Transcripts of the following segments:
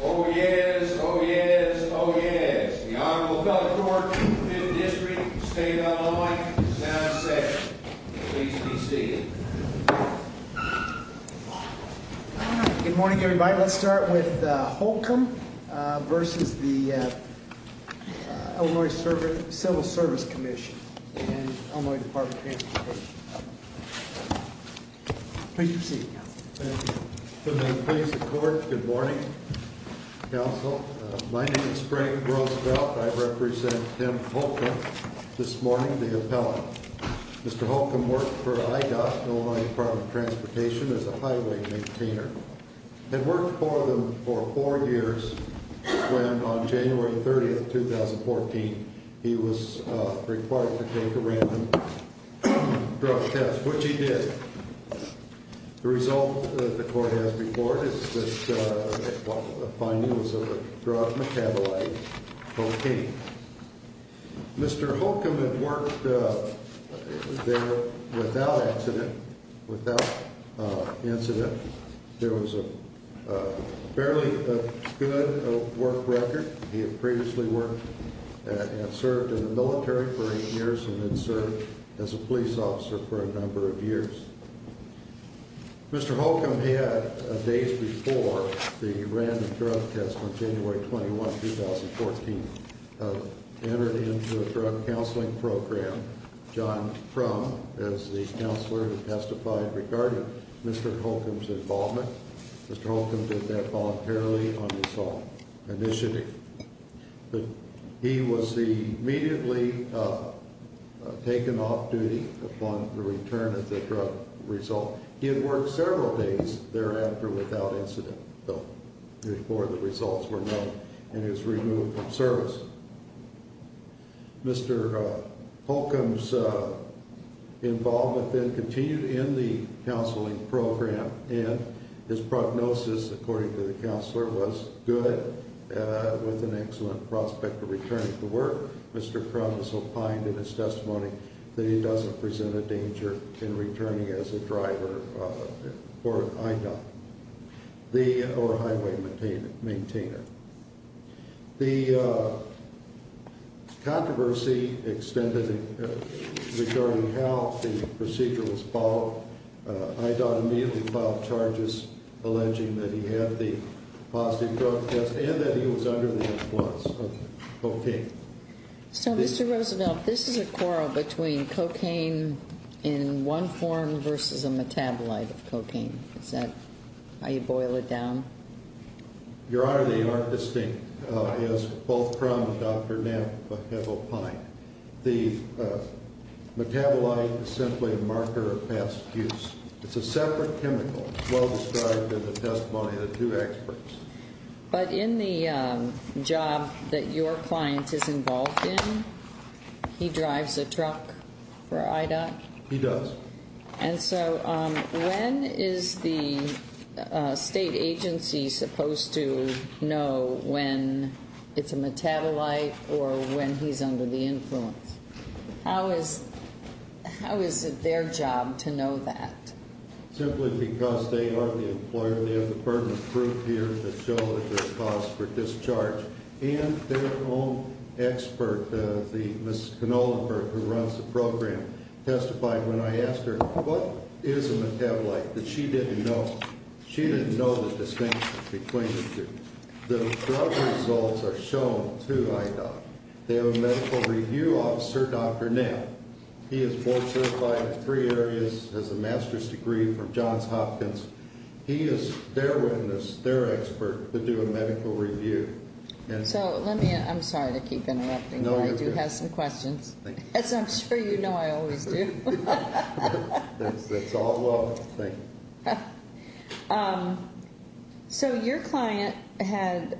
Oh yes, oh yes, oh yes. The Honorable Doug Thornton, 5th District, State of Illinois, sound session. Please be seated. Good morning, everybody. Let's start with Holcomb v. Illinois Civil Service Comm'n and Illinois Department of Transportation. Please proceed. Good morning. My name is Frank Roosevelt. I represent Tim Holcomb, this morning, the appellant. Mr. Holcomb worked for IDOT, Illinois Department of Transportation, as a highway maintainer and worked for them for four years when on January 30, 2014, he was required to take a random drug test, which he did. The result that the court has before it is that a finding was of a drug metabolite cocaine. Mr. Holcomb had worked there without incident. There was a fairly good work record. He had previously worked and served in the military for eight years and had served as a police officer for a number of years. Mr. Holcomb had, days before the random drug test on January 21, 2014, entered into a drug counseling program. John Frum, as the counselor, testified regarding Mr. Holcomb's involvement. Mr. Holcomb did that voluntarily on his own initiative. He was immediately taken off duty upon the return of the drug result. He had worked several days thereafter without incident, though, before the results were known, and was removed from service. Mr. Holcomb's involvement then with the counselor was good, with an excellent prospect of returning to work. Mr. Frum also opined in his testimony that he doesn't present a danger in returning as a driver for IDOT or highway maintainer. The controversy extended regarding how the procedure was followed. IDOT immediately filed charges alleging that he had the positive drug test and that he was under the influence of cocaine. So, Mr. Roosevelt, this is a quarrel between cocaine in one form versus a metabolite of cocaine. Is that how you boil it down? Your Honor, they aren't distinct, as both Frum and Dr. Knapp have opined. The metabolite is simply a marker of past use. It's a separate chemical, as well described in the testimony of the two experts. But in the job that your client is involved in, he drives a truck for IDOT? He does. And so when is the state agency supposed to know when it's a metabolite or when he's under the influence? How is it their job to know that? Simply because they are the employer and they have the permanent proof here that shows the cost for discharge. And their own expert, Ms. Knollenberg, who runs the program, testified when I asked her what is a metabolite that she didn't know. She didn't know the distinction between the two. The drug results are shown to IDOT. They have a medical review officer, Dr. Knapp. He is board certified in three areas, has a master's degree from Johns Hopkins. He is their witness, their So let me, I'm sorry to keep interrupting, but I do have some questions. As I'm sure you know, I always do. That's all well. Thank you. So your client had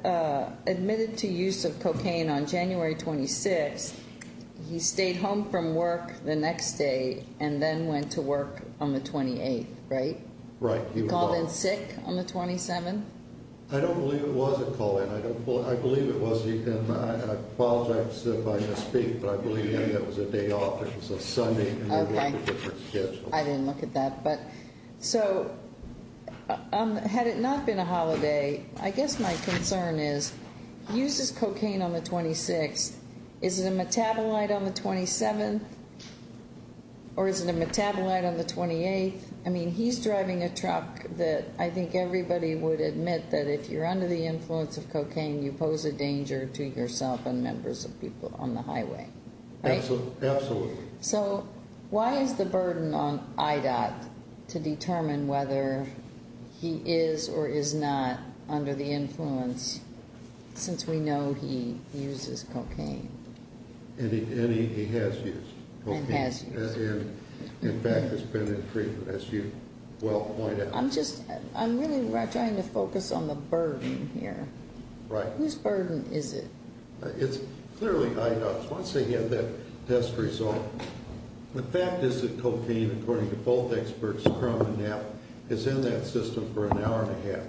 admitted to use of cocaine on January 26th. He stayed home from work the next day and then went to work on the 28th, right? Right. He called in sick on the 27th? I don't believe it was a call in. I believe it was. I apologize if I misspeak, but I believe that was a day off. It was a Sunday. Okay. I didn't look at that. So had it not been a holiday, I guess my concern is he uses cocaine on the 26th. Is it a metabolite on the 27th or is it a metabolite on the 28th? I mean, he's driving a truck that I think everybody would admit that if you're under the influence of cocaine, you pose a danger to yourself and members of people on the highway. Right? Absolutely. So why is the burden on IDOT to determine whether he is or is not under the influence since we know he uses cocaine? And he has used cocaine. And has used. And in fact has been in treatment, as you well point out. I'm just, I'm really trying to focus on the burden here. Right. Whose burden is it? It's clearly IDOT's. Once they get that test result, the fact is that cocaine, according to both experts, is in that system for an hour and a half.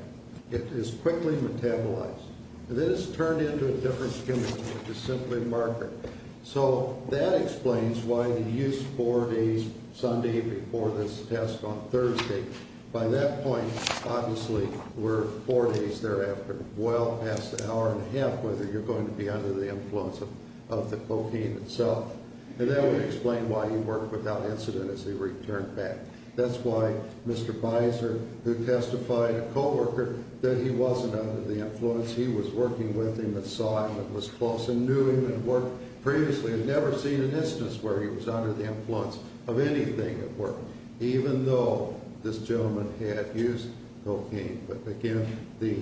It is quickly metabolized. And then it's turned into a different stimulant, which is simply margarine. So that explains why he used four days, Sunday before this test on Thursday. By that point, obviously, we're four days thereafter. Well past the hour and a half, whether you're going to be under the influence of the cocaine itself. And that would explain why he worked without incident as he returned back. That's why Mr. Visor, who testified, a co-worker, that he wasn't under the influence. He was working with him and saw him and was close and knew him and had worked previously and never seen an instance where he was under the influence of anything at work. Even though this gentleman had used cocaine. But again, the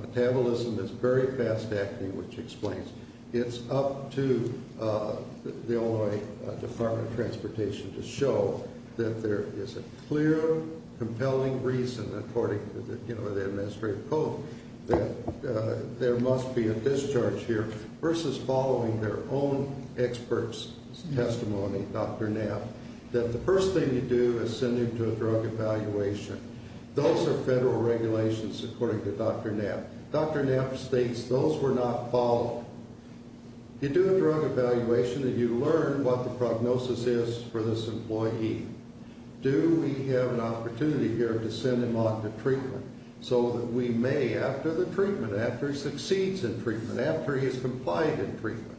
metabolism is very fast acting, which explains. It's up to the Illinois Department of Transportation to show that there is a clear, compelling reason, according to the administrative code, that there must be a discharge here versus following their own experts' testimony, Dr. Knapp, that the first thing you do is send him to a drug evaluation. Those are federal regulations, according to Dr. Knapp. Dr. Knapp states those were not followed. You do a drug evaluation and you learn what the prognosis is for this employee. Do we have an opportunity here to send him on to treatment so that we may, after the treatment, after he succeeds in treatment, after he has complied in treatment,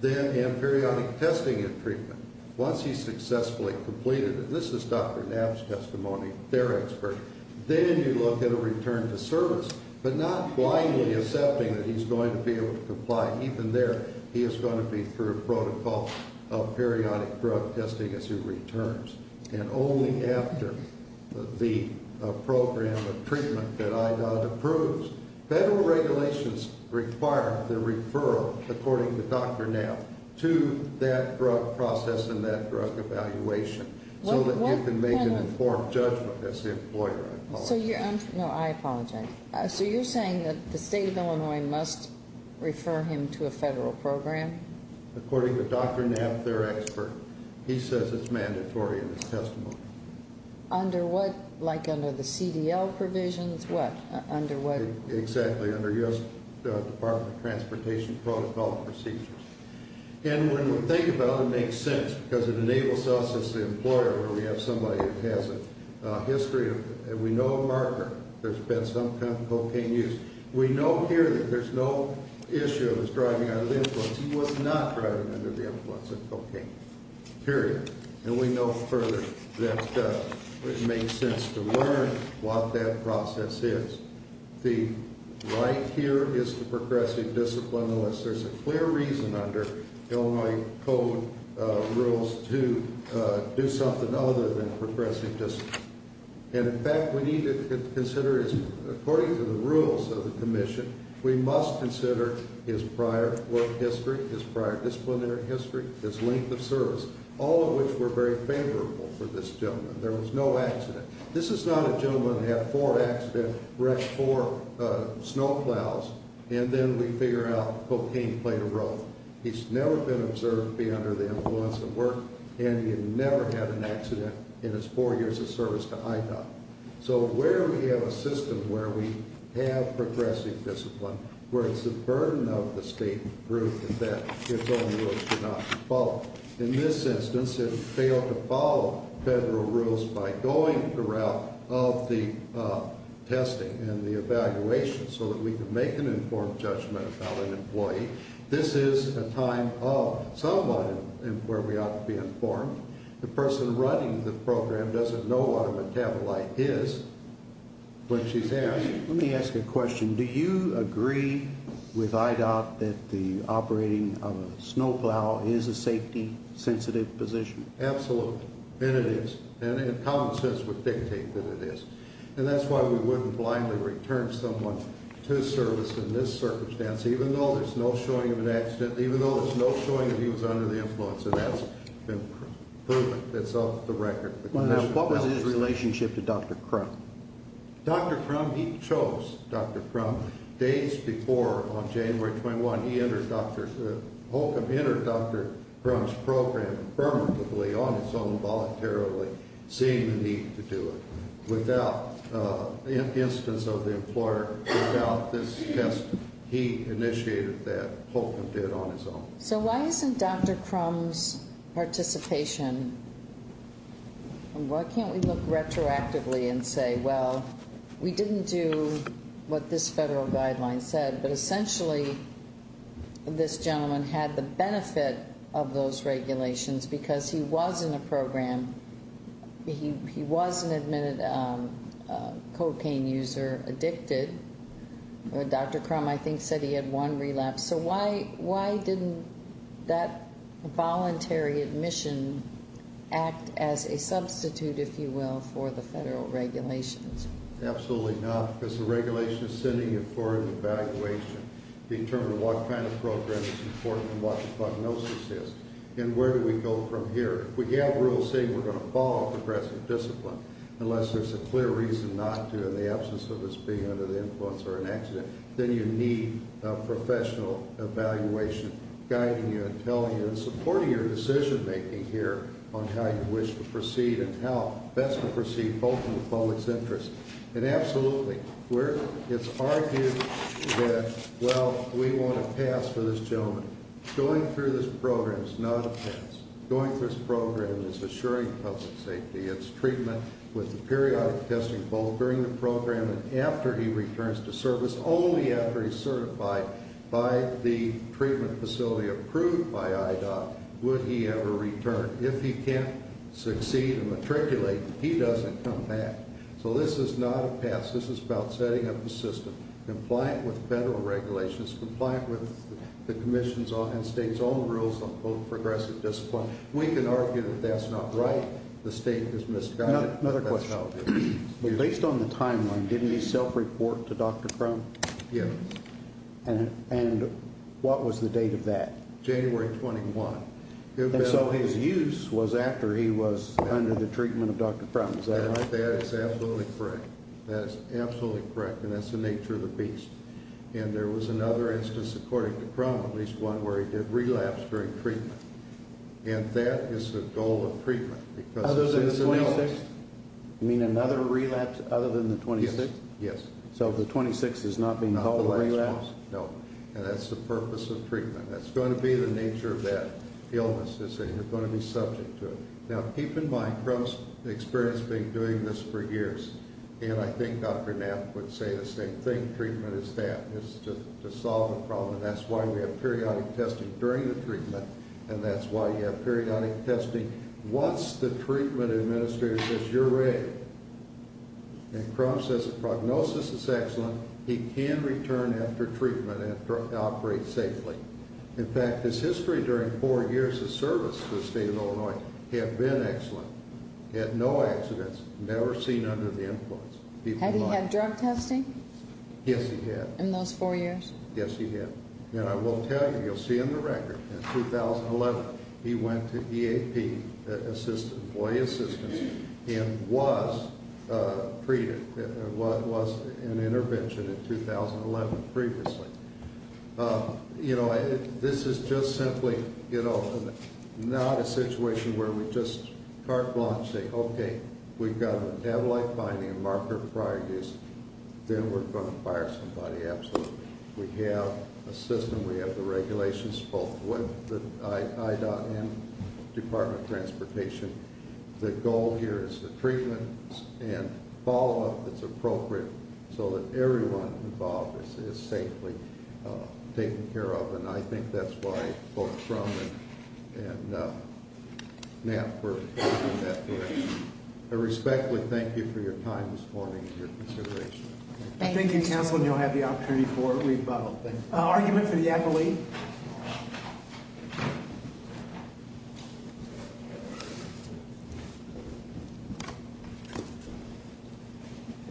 then in periodic testing and treatment, once he's successfully completed it, this is Dr. Knapp. He's going to be sent to the service, but not blindly accepting that he's going to be able to comply. Even there, he is going to be through a protocol of periodic drug testing as he returns. And only after the program of treatment that IDOT approves, federal regulations require the referral, according to Dr. Knapp, to that drug process and that drug evaluation so that you can make an informed judgment as the employer. I apologize. No, I apologize. So you're saying that the state of Illinois must refer him to a federal program? According to Dr. Knapp, their expert, he says it's mandatory in his testimony. Under what? Like under the CDL provisions? What? Under what? Exactly. Under U.S. Department of Transportation protocol and procedures. And when we think about it, it makes sense because it enables us as the employer where we have somebody who has a history of, and we know a marker, there's been some kind of cocaine use. We know here that there's no issue of his driving under the influence. He was not driving under the influence of cocaine, period. And we know further that it makes sense to learn what that process is. The right here is to progressive discipline unless there's a clear reason under the Illinois Code rules to do something other than progressive discipline. And in fact, we need to consider his, according to the rules of the commission, we must consider his prior work history, his prior disciplinary history, his length of service, all of which were very favorable for this gentleman. There was no accident. This is not a gentleman who had four accidents, wrecked four snowplows, and then we figure out cocaine played a role. He's never been observed to be under the influence of work, and he had never had an accident in his four years of service to IHOP. So where we have a system where we have progressive discipline, where it's a burden of the state to prove that its own rules do not follow. In this instance, it failed to follow federal rules by going the route of the testing and the evaluation so that we can make an informed judgment about an employee. This is a time of someone where we ought to be informed. The person running the program doesn't know what a metabolite is when she's asked. Let me ask a question. Do you agree with IDOT that the operating of a snowplow is a safety sensitive position? Absolutely. And it is. And it common sense would dictate that it is. And that's why we couldn't blindly return someone to service in this circumstance, even though there's no showing of an accident, even though there's no showing that he was under the influence. And that's been proven. It's off the record. What was his relationship to Dr. Crum? Dr. Crum, he chose Dr. Crum. Days before, on January 21, he entered Dr. Crum's program permanently, on his own, voluntarily, seeing the need to do it. Without the instance of the employer, without this test, he initiated that. Holcomb did it on his own. So why isn't Dr. Crum's participation, and why can't we look retroactively and say, well, we didn't do what this federal guideline said, but essentially this gentleman had the benefit of those regulations, because he was in the program. He was an admitted cocaine user, addicted. Dr. Crum, I think, said he had one relapse. So why didn't that voluntary admission act as a substitute, if you will, for the federal regulations? Absolutely not. Because the regulation is sending it for an evaluation, determining what kind of program is important and what the prognosis is, and where do we go from here. We have rules saying we're going to follow progressive discipline, unless there's a clear reason not to, in the absence of us being under the influence or an accident. Then you need a professional evaluation guiding you and telling you and supporting your decision making here on how you wish to proceed and how best to proceed, both in the public's interest. And absolutely, it's argued that, well, we want a pass for this gentleman. Going through this program is not a pass. Going through this program is assuring public safety. It's treatment with the periodic testing, both during the program and after he returns to service, only after he's certified by the treatment facility approved by IDOC would he ever return. If he can't succeed and matriculate, he doesn't come back. So this is not a pass. This is about setting up a system compliant with federal regulations, compliant with the Commission's and the state's own rules on progressive discipline. We can argue that that's not right. The state has misguided it. Another question. Based on the timeline, didn't he self-report to Dr. Crum? Yes. And what was the date of that? January 21. And so his use was after he was under the treatment of Dr. Crum, is that right? That is absolutely correct. That is absolutely correct, and that's the nature of the beast. And there was another instance, according to Crum, at least one, where he did relapse during treatment. And that is the goal of treatment. Other than the 26th? You mean another relapse other than the 26th? Yes, yes. So the 26th is not being called a relapse? Not the last one, no. And that's the purpose of treatment. That's going to be the nature of that illness, is that you're going to be subject to it. Now, keep in mind, Crum's experience being doing this for years, and I think Dr. Knapp would say the same thing. Treatment is to solve a problem, and that's why we have periodic testing during the treatment, and that's why you have periodic testing once the treatment administrator says, you're ready. And Crum says the prognosis is excellent. He can return after treatment and operate safely. In fact, his history during four years of service to the state of Illinois had been excellent. He had no accidents, never seen under the influence. Had he had drug testing? Yes, he had. In those four years? Yes, he had. And I will tell you, you'll see in the record, in 2011, he went to EAP, employee assistance, and was treated, was an intervention in 2011 previously. You know, this is just simply, you know, not a situation where we just carte blanche say, okay, we've got metabolite binding, marker prior use, then we're going to fire somebody. Absolutely. We have a system, we have the regulations, both with the I.M. Department of Transportation. The goal here is the treatment and follow-up that's appropriate so that everyone involved is safely taken care of, and I think that's why both Crum and NAP were looking at that direction. I respectfully thank you for your time this morning and your consideration. Thank you, counsel, and you'll have the opportunity for a rebuttal. Thank you. Argument for the appellee.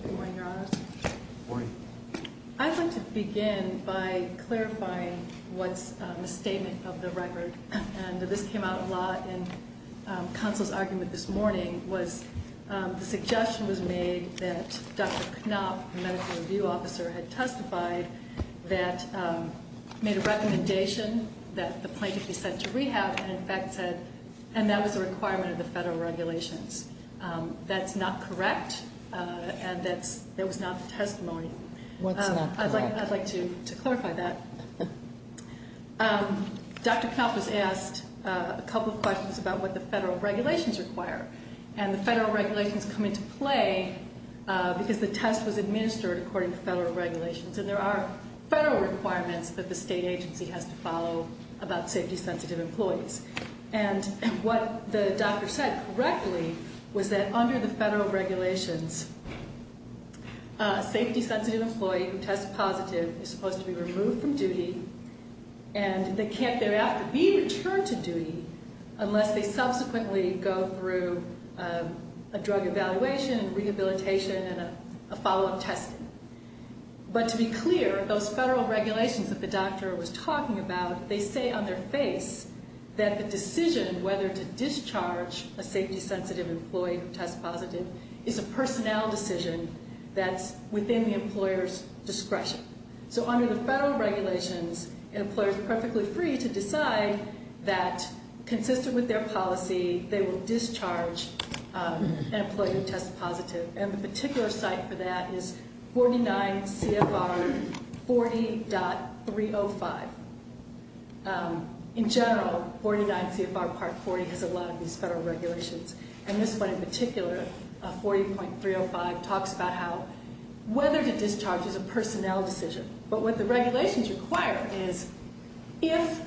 Good morning, Your Honors. Good morning. I'd like to begin by clarifying what's in the statement of the record, and this came out a lot in counsel's argument this morning, was the suggestion was made that Dr. Knopp the medical review officer had testified that made a recommendation that the plaintiff be sent to rehab, and in fact said, and that was a requirement of the federal regulations. That's not correct, and that was not the testimony. What's not correct? I'd like to clarify that. Dr. Knopp was asked a couple of questions about what the federal regulations require, and the federal regulations come into play because the test was administered according to federal regulations, and there are federal requirements that the state agency has to follow about safety-sensitive employees, and what the doctor said correctly was that under the federal regulations, a safety-sensitive employee who tests positive is supposed to go through a drug evaluation, rehabilitation, and a follow-up testing. But to be clear, those federal regulations that the doctor was talking about, they say on their face that the decision whether to discharge a safety-sensitive employee who tests positive is a personnel decision that's within the employer's discretion. So under the federal regulations, an employer is perfectly free to decide that consistent with their policy, they will discharge an employee who tests positive, and the particular site for that is 49 CFR 40.305. In general, 49 CFR Part 40 has a lot of these federal regulations, and this one in particular, 40.305, talks about how whether to discharge is a personnel decision, but what the regulations require is if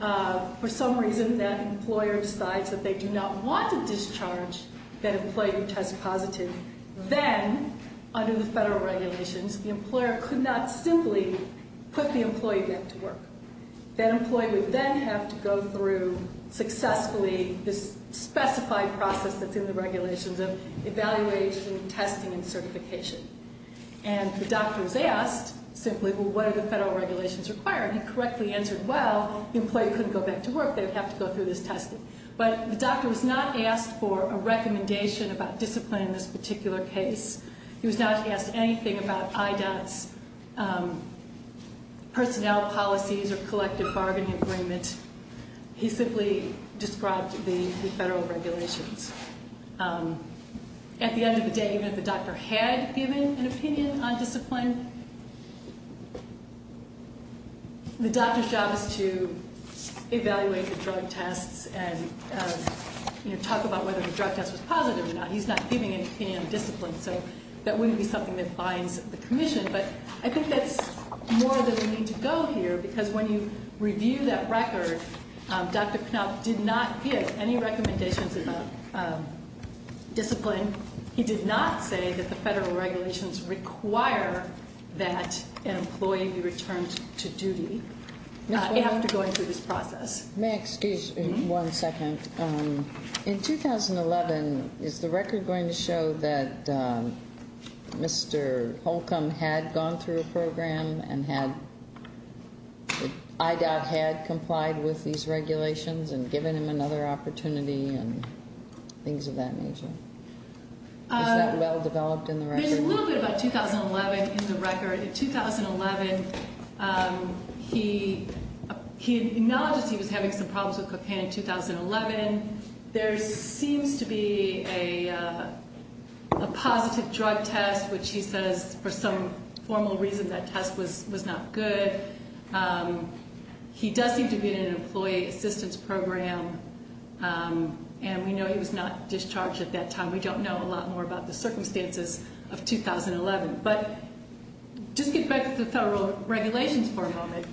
for some reason that employer decides that they do not want to discharge that employee who tests positive, then under the federal regulations, the employer could not simply put the employee back to work. That employee would then have to go through successfully this specified process that's in the regulations of evaluation, testing, and certification. And the doctor was asked simply, well, what are the federal regulations requiring? He correctly answered, well, the employee couldn't go back to work, they would have to go through this testing. But the doctor was not asked for a recommendation about discipline in this particular case. He was not asked anything about IDOT's personnel policies or collective bargaining agreement. He simply described the federal regulations. At the end of the day, even if the doctor had given an opinion on discipline, the doctor's job is to evaluate the drug tests and, you know, talk about whether the drug test was positive or not. He's not giving an opinion on discipline, so that wouldn't be something that binds the commission. But I think that's more than we need to go here, because when you review that record, Dr. Knopf did not give any recommendations about discipline. He did not say that the federal regulations require that an employee be returned to duty after going through this process. May I excuse you one second? In 2011, is the record going to show that Mr. Holcomb had gone through a program and that IDOT had complied with these regulations and given him another opportunity and things of that nature? Is that well developed in the record? There's a little bit about 2011 in the record. In 2011, he acknowledged that he was having some problems with cocaine in 2011. There seems to be a positive drug test, which he says for some formal reason that test was not good. He does seem to be in an employee assistance program, and we know he was not discharged at that time. We don't know a lot more about the circumstances of 2011. But just get back to the federal regulations for a moment.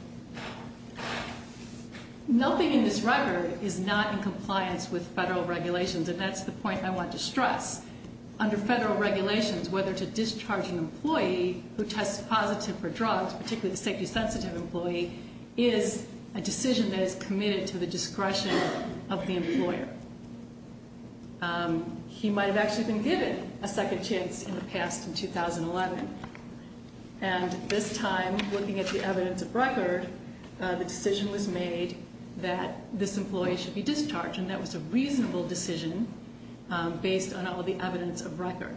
Nothing in this record is not in compliance with federal regulations, and that's the point I want to stress. Under federal regulations, whether to discharge an employee who tests positive for drugs, particularly the safety-sensitive employee, is a decision that is committed to the discretion of the employer. He might have actually been given a second chance in the past in 2011. And this time, looking at the evidence of record, the decision was made that this employee should be discharged, and that was a reasonable decision based on all of the evidence of record.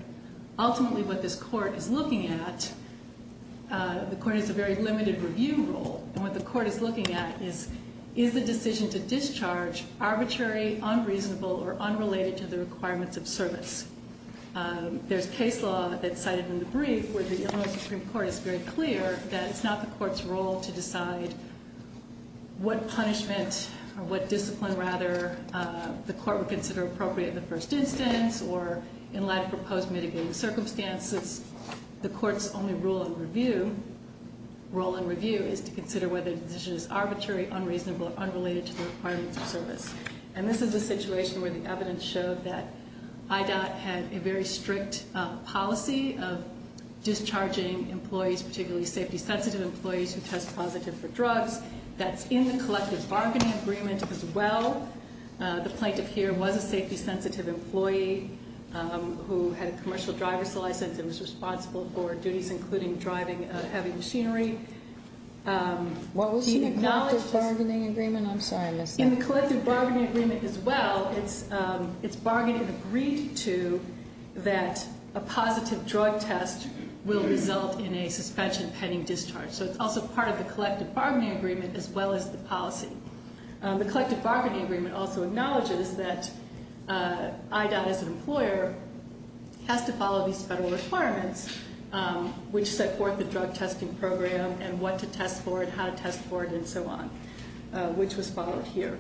Ultimately, what this court is looking at, the court has a very limited review role. And what the court is looking at is, is the decision to discharge arbitrary, unreasonable, or unrelated to the requirements of service? There's case law that's cited in the brief where the Illinois Supreme Court is very clear that it's not the court's role to decide what punishment or what discipline, rather, the mitigating circumstances. The court's only role in review is to consider whether the decision is arbitrary, unreasonable, or unrelated to the requirements of service. And this is a situation where the evidence showed that IDOT had a very strict policy of discharging employees, particularly safety-sensitive employees who test positive for drugs. That's in the collective bargaining agreement as well. The plaintiff here was a safety-sensitive employee who had a commercial driver's license and was responsible for duties including driving heavy machinery. What was in the collective bargaining agreement? I'm sorry. In the collective bargaining agreement as well, it's bargaining agreed to that a positive drug test will result in a suspension pending discharge. So it's also part of the collective bargaining agreement as well as the policy. The collective bargaining agreement also acknowledges that IDOT as an employer has to follow these federal requirements which set forth the drug testing program and what to test for it, how to test for it, and so on, which was followed here.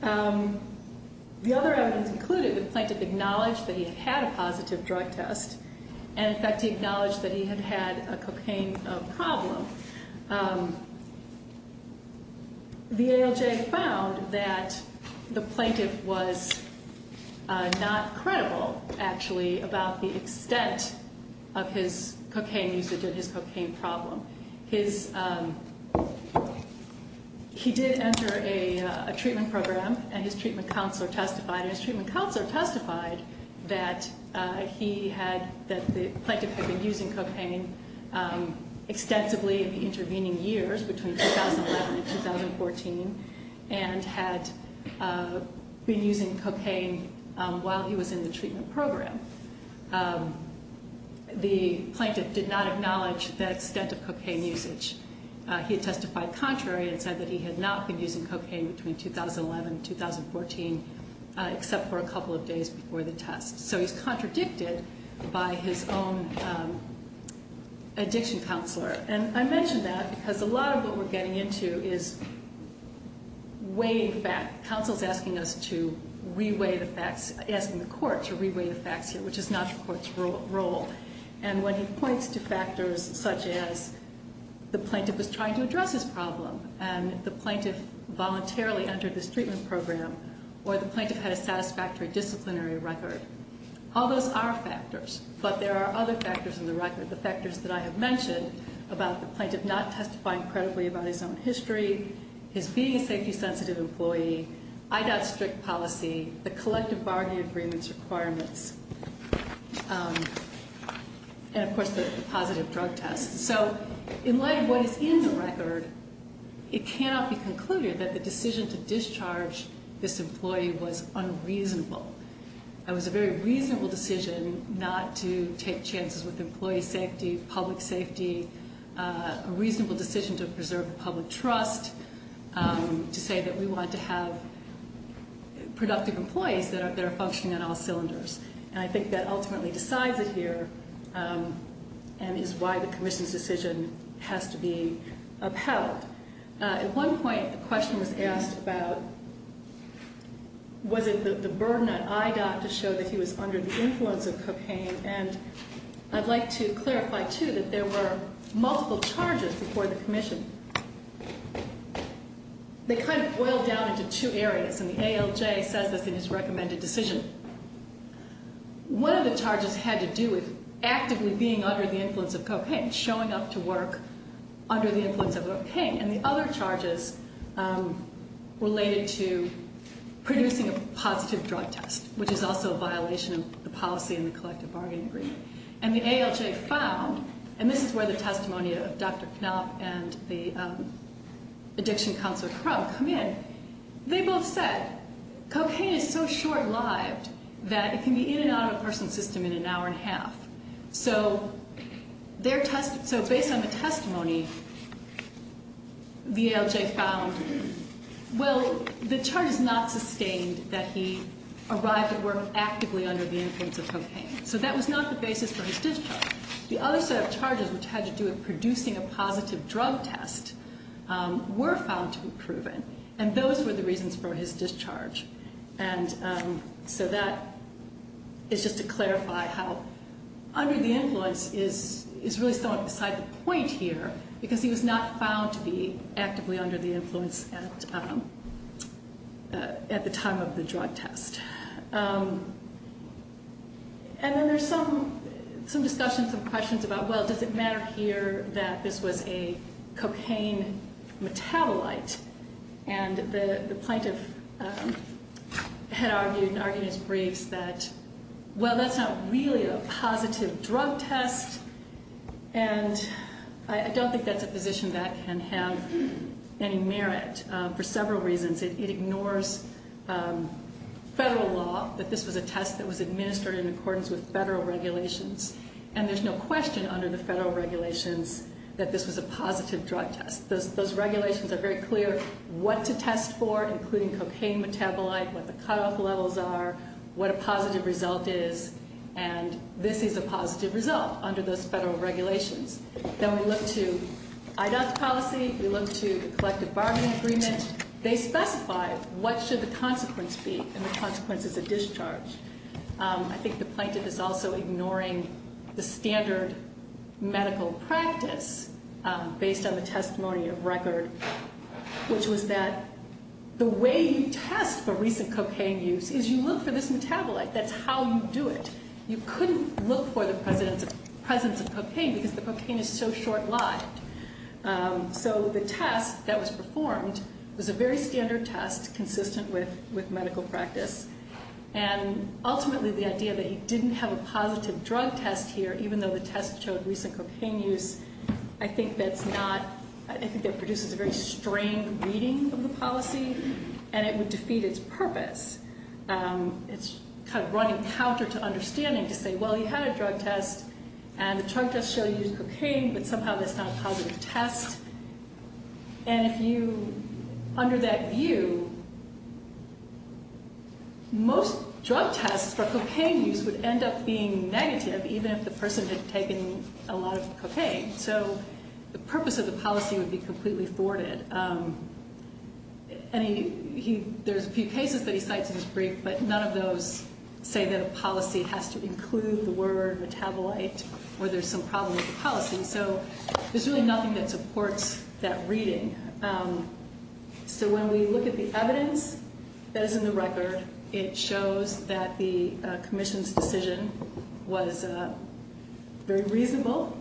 The other evidence included, the plaintiff acknowledged that he had had a positive drug test and in fact he acknowledged that he had had a cocaine problem. The ALJ found that the plaintiff was not credible actually about the extent of his cocaine usage or his cocaine problem. He did enter a treatment program and his treatment counselor testified. His treatment counselor testified that the plaintiff had been using cocaine extensively in the intervening years between 2011 and 2014 and had been using cocaine while he was in the treatment program. The plaintiff did not acknowledge the extent of cocaine usage. He testified contrary and said that he had not been using cocaine between 2011 and 2014 except for a couple of days before the test. So he's contradicted by his own addiction counselor. And I mention that because a lot of what we're getting into is weighing facts. Counsel's asking us to re-weigh the facts, asking the court to re-weigh the facts here, which is not your court's role. And when he points to factors such as the plaintiff was trying to address his problem and the plaintiff voluntarily entered this treatment program or the plaintiff had a satisfactory disciplinary record, all those are factors. But there are other factors in the record. The factors that I have mentioned about the plaintiff not testifying credibly about his own history, his being a safety-sensitive employee, IDOT strict policy, the collective bargaining agreements requirements, and of course the positive drug test. So in light of what is in the record, it cannot be concluded that the decision to discharge this employee was unreasonable. It was a very reasonable decision not to take chances with employee safety, public safety, a reasonable decision to preserve the public trust, to say that we want to have productive employees that are functioning on all cylinders. And I think that ultimately decides it here and is why the commission's decision has to be upheld. At one point, a question was asked about was it the burden on IDOT to show that he was under the influence of cocaine, and I'd like to clarify, too, that there were multiple charges before the commission. They kind of boiled down into two areas, and the ALJ says this in his recommended decision. One of the charges had to do with actively being under the influence of cocaine, showing up to work under the influence of cocaine. And the other charges related to producing a positive drug test, which is also a violation of the policy in the collective bargaining agreement. And the ALJ found, and this is where the testimony of Dr. Knopf and the addiction counselor Crump come in. They both said cocaine is so short-lived that it can be in and out of a person's system in an hour and a half. So based on the testimony, the ALJ found, well, the charge is not sustained that he arrived at work actively under the influence of cocaine. So that was not the basis for his discharge. The other set of charges which had to do with producing a positive drug test were found to be proven, and those were the reasons for his discharge. And so that is just to clarify how under the influence is really somewhat beside the point here, because he was not found to be actively under the influence at the time of the drug test. And then there's some discussion, some questions about, well, does it matter here that this was a cocaine metabolite? And the plaintiff had argued in his briefs that, well, that's not really a positive drug test, and I don't think that's a position that can have any merit for several reasons. It ignores federal law that this was a test that was administered in accordance with federal regulations. And there's no question under the federal regulations that this was a positive drug test. Those regulations are very clear what to test for, including cocaine metabolite, what the cutoff levels are, what a positive result is, and this is a positive result under those federal regulations. Then we look to IDOT's policy. We look to the collective bargaining agreement. They specify what should the consequence be, and the consequence is a discharge. I think the plaintiff is also ignoring the standard medical practice based on the testimony of record, which was that the way you test for recent cocaine use is you look for this metabolite. That's how you do it. You couldn't look for the presence of cocaine because the cocaine is so short-lived. So the test that was performed was a very standard test consistent with medical practice, and ultimately the idea that he didn't have a positive drug test here, even though the test showed recent cocaine use, I think that produces a very strained reading of the policy, and it would defeat its purpose. It's kind of running counter to understanding to say, well, you had a drug test, and the drug test was a positive test, and if you, under that view, most drug tests for cocaine use would end up being negative, even if the person had taken a lot of cocaine. So the purpose of the policy would be completely thwarted, and there's a few cases that he cites in his brief, but none of those say that a policy has to include the word metabolite or there's some problem with the policy. So there's really nothing that supports that reading. So when we look at the evidence that is in the record, it shows that the commission's decision was very reasonable,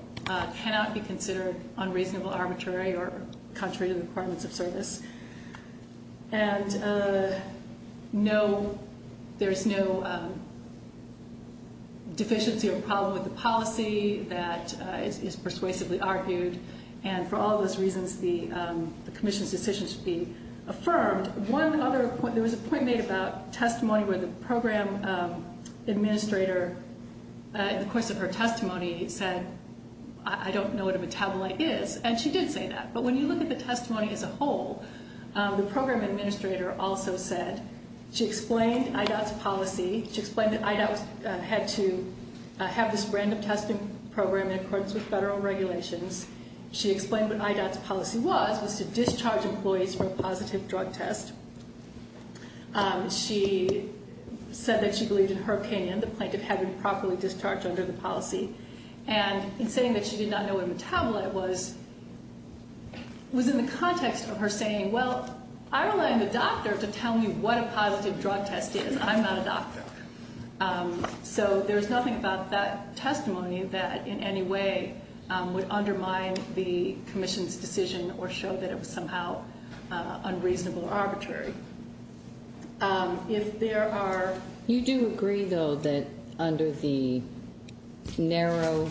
cannot be considered unreasonable, arbitrary, or contrary to the requirements of service. And there's no deficiency or problem with the policy that is persuasively argued, and for all those reasons, the commission's decision should be affirmed. There was a point made about testimony where the program administrator, in the course of her testimony, said, I don't know what a metabolite is, and she did say that, but when you look at the testimony as a whole, the program administrator also said, she explained IDOT's policy. She explained that IDOT had to have this random testing program in accordance with federal regulations. She explained what IDOT's policy was, was to discharge employees from a positive drug test. She said that she believed, in her opinion, the plaintiff had been properly discharged under the policy, and in saying that she did not know what a metabolite was, was in the context of her saying, well, I rely on the doctor to tell me what a positive drug test is. I'm not a doctor. So there's nothing about that testimony that in any way would undermine the commission's decision or show that it was somehow unreasonable or arbitrary. If there are... You do agree, though, that under the narrow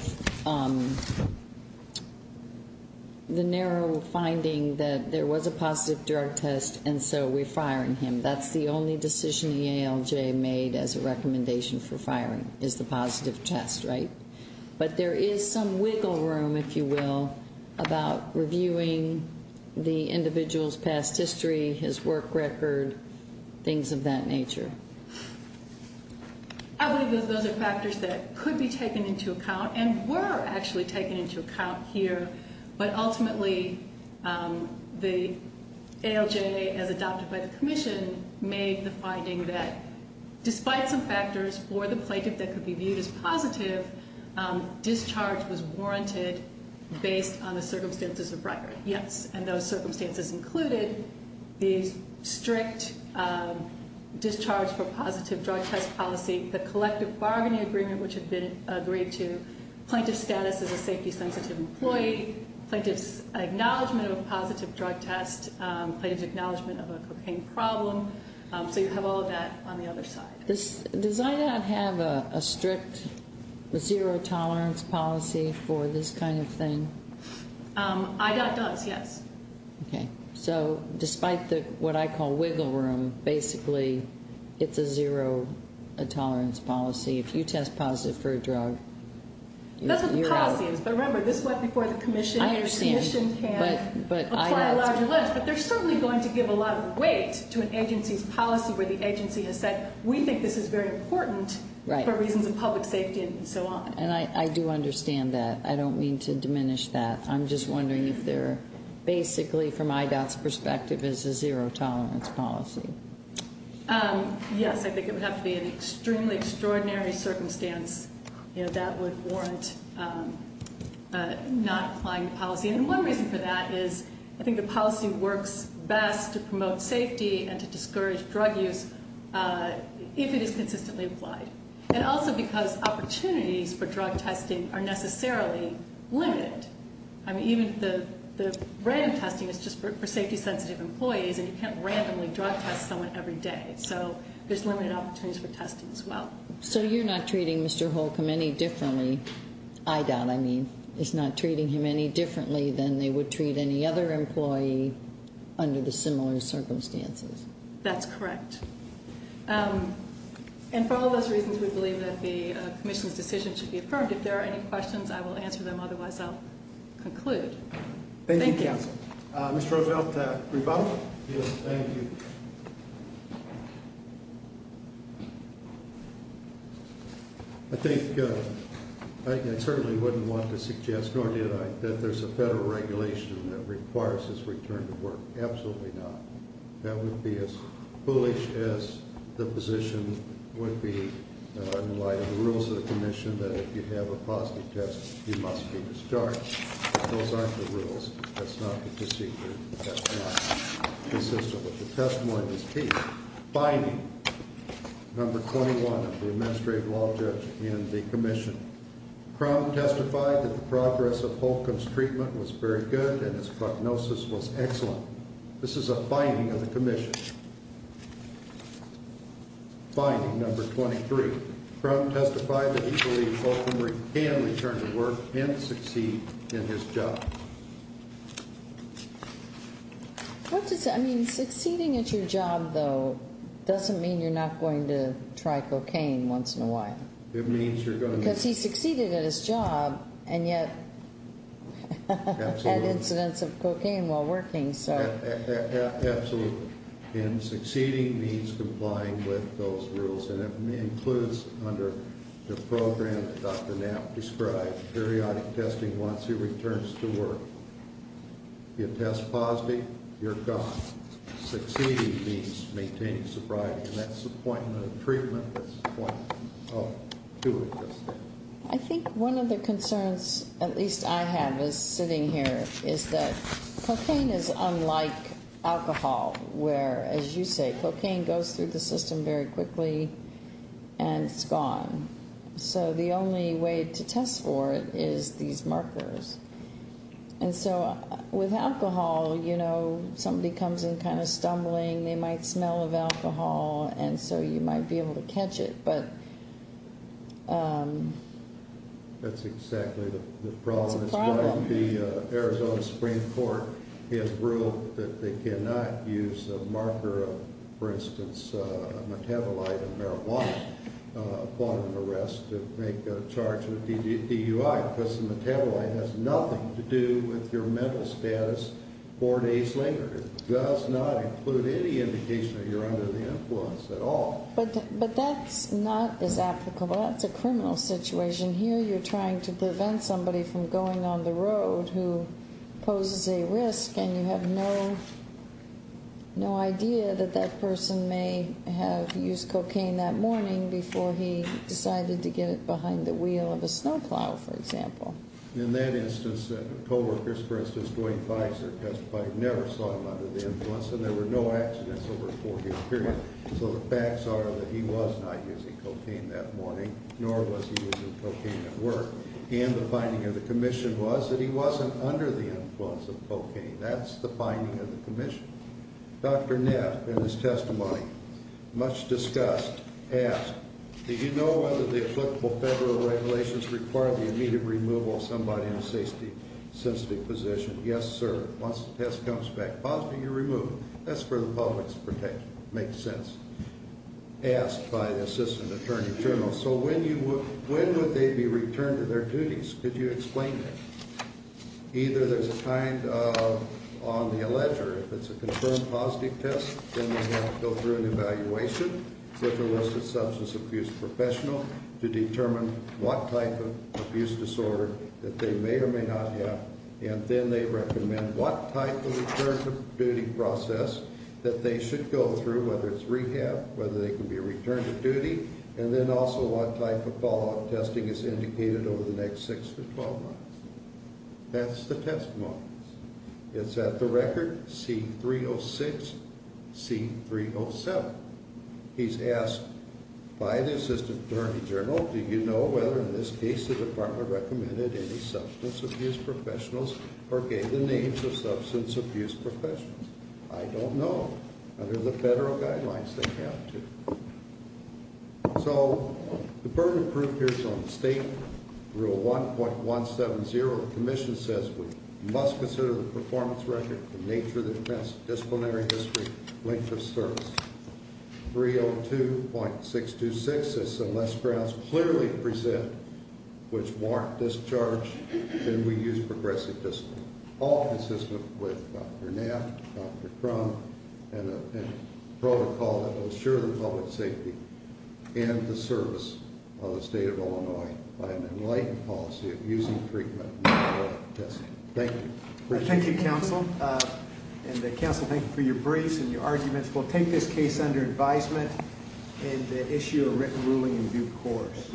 finding that there was a positive drug test, and so we're firing him. That's the only decision the ALJ made as a recommendation for firing, is the positive test, right? But there is some wiggle room, if you will, about reviewing the individual's past history, his work record, things of that nature. I believe those are factors that could be taken into account and were actually taken into account here, but ultimately the ALJ, as adopted by the commission, made the finding that despite some factors for the plaintiff that could be viewed as positive, discharge was warranted based on the circumstances of bribery. Yes, and those circumstances included the strict discharge for positive drug test policy, the collective bargaining agreement which had been agreed to, plaintiff's status as a safety-sensitive employee, plaintiff's acknowledgment of a positive drug test, plaintiff's acknowledgment of a cocaine problem. So you have all of that on the other side. Does IDOT have a strict zero-tolerance policy for this kind of thing? IDOT does, yes. Okay. So despite what I call wiggle room, basically it's a zero-tolerance policy. If you test positive for a drug, you're out. That's what the policy is. But remember, this went before the commission. I understand. The commission can apply a larger limit, but they're certainly going to give a lot of weight to an agency's policy where the agency has said, we think this is very important for reasons of public safety and so on. And I do understand that. I don't mean to diminish that. I'm just wondering if they're basically, from IDOT's perspective, is a zero-tolerance policy. Yes. I think it would have to be an extremely extraordinary circumstance that would warrant not applying the policy. And one reason for that is I think the policy works best to promote safety and to discourage drug use if it is consistently applied. And also because opportunities for drug testing are necessarily limited. I mean, even the random testing is just for safety-sensitive employees, and you can't randomly drug test someone every day. So there's limited opportunities for testing as well. So you're not treating Mr. Holcomb any differently. IDOT, I mean, is not treating him any differently than they would treat any other employee under the similar circumstances. That's correct. And for all those reasons, we believe that the commission's decision should be affirmed. If there are any questions, I will answer them. Otherwise, I'll conclude. Thank you. Thank you, counsel. Mr. Roosevelt, rebuttal? Yes, thank you. I think I certainly wouldn't want to suggest, nor did I, that there's a federal regulation that requires this return to work. Absolutely not. That would be as foolish as the position would be in light of the rules of the commission that if you have a positive test, you must be discharged. Those aren't the rules. That's not the procedure. That's not the system. But the testimony is key. Finding number 21 of the administrative law judge in the commission. Crum testified that the progress of Holcomb's treatment was very good, and his prognosis was excellent. This is a finding of the commission. Finding number 23. Crum testified that he believes Holcomb can return to work and succeed in his job. What does that mean? Succeeding at your job, though, doesn't mean you're not going to try cocaine once in a while. It means you're going to. Because he succeeded at his job, and yet had incidents of cocaine while working. Absolutely. And succeeding means complying with those rules. And it includes under the program that Dr. Knapp described, periodic testing once he returns to work. You test positive, you're gone. Succeeding means maintaining sobriety. And that's the point of the treatment. That's the point of doing this. I think one of the concerns, at least I have as sitting here, is that cocaine is unlike alcohol, where, as you say, cocaine goes through the system very quickly and it's gone. So the only way to test for it is these markers. And so with alcohol, you know, somebody comes in kind of stumbling. They might smell of alcohol, and so you might be able to catch it. That's exactly the problem. It's a problem. The Arizona Supreme Court has ruled that they cannot use a marker of, for instance, a metabolite of marijuana upon an arrest to make a charge of DUI because the metabolite has nothing to do with your mental status four days later. It does not include any indication that you're under the influence at all. But that's not as applicable. That's a criminal situation. Here you're trying to prevent somebody from going on the road who poses a risk, and you have no idea that that person may have used cocaine that morning before he decided to get it behind the wheel of a snow plow, for example. In that instance, the co-workers, for instance, Duane Fikes, their test buddy, never saw him under the influence, and there were no accidents over a four-day period. So the facts are that he was not using cocaine that morning, nor was he using cocaine at work. And the finding of the commission was that he wasn't under the influence of cocaine. That's the finding of the commission. Dr. Neff, in his testimony, much discussed, asked, did you know whether the applicable federal regulations require the immediate removal of somebody in a sensitive position? Yes, sir. Once the test comes back positive, you're removed. That's for the public's protection. Makes sense. Asked by the assistant attorney general, so when would they be returned to their duties? Could you explain that? Either there's a kind of, on the alleger, if it's a confirmed positive test, then they have to go through an evaluation with a listed substance abuse professional to determine what type of abuse disorder that they may or may not have, and then they recommend what type of return to duty process that they should go through, whether it's rehab, whether they can be returned to duty, and then also what type of follow-up testing is indicated over the next 6 to 12 months. That's the testimony. It's at the record, C-306, C-307. He's asked by the assistant attorney general, do you know whether in this case the department recommended any substance abuse professionals or gave the names of substance abuse professionals? I don't know. Under the federal guidelines, they have to. So the pertinent proof here is on the statement. Rule 1.170 of the commission says we must consider the performance record for nature of defense, disciplinary history, length of service. 302.626 says unless grounds clearly present which warrant discharge, then we use progressive discipline, all consistent with Dr. Knapp, Dr. Crum, and a protocol that will assure the public's safety and the service of the state of Illinois by an enlightened policy of using treatment before testing. Thank you. I thank you, counsel. And counsel, thank you for your briefs and your arguments. We'll take this case under advisement and issue a written ruling in due course.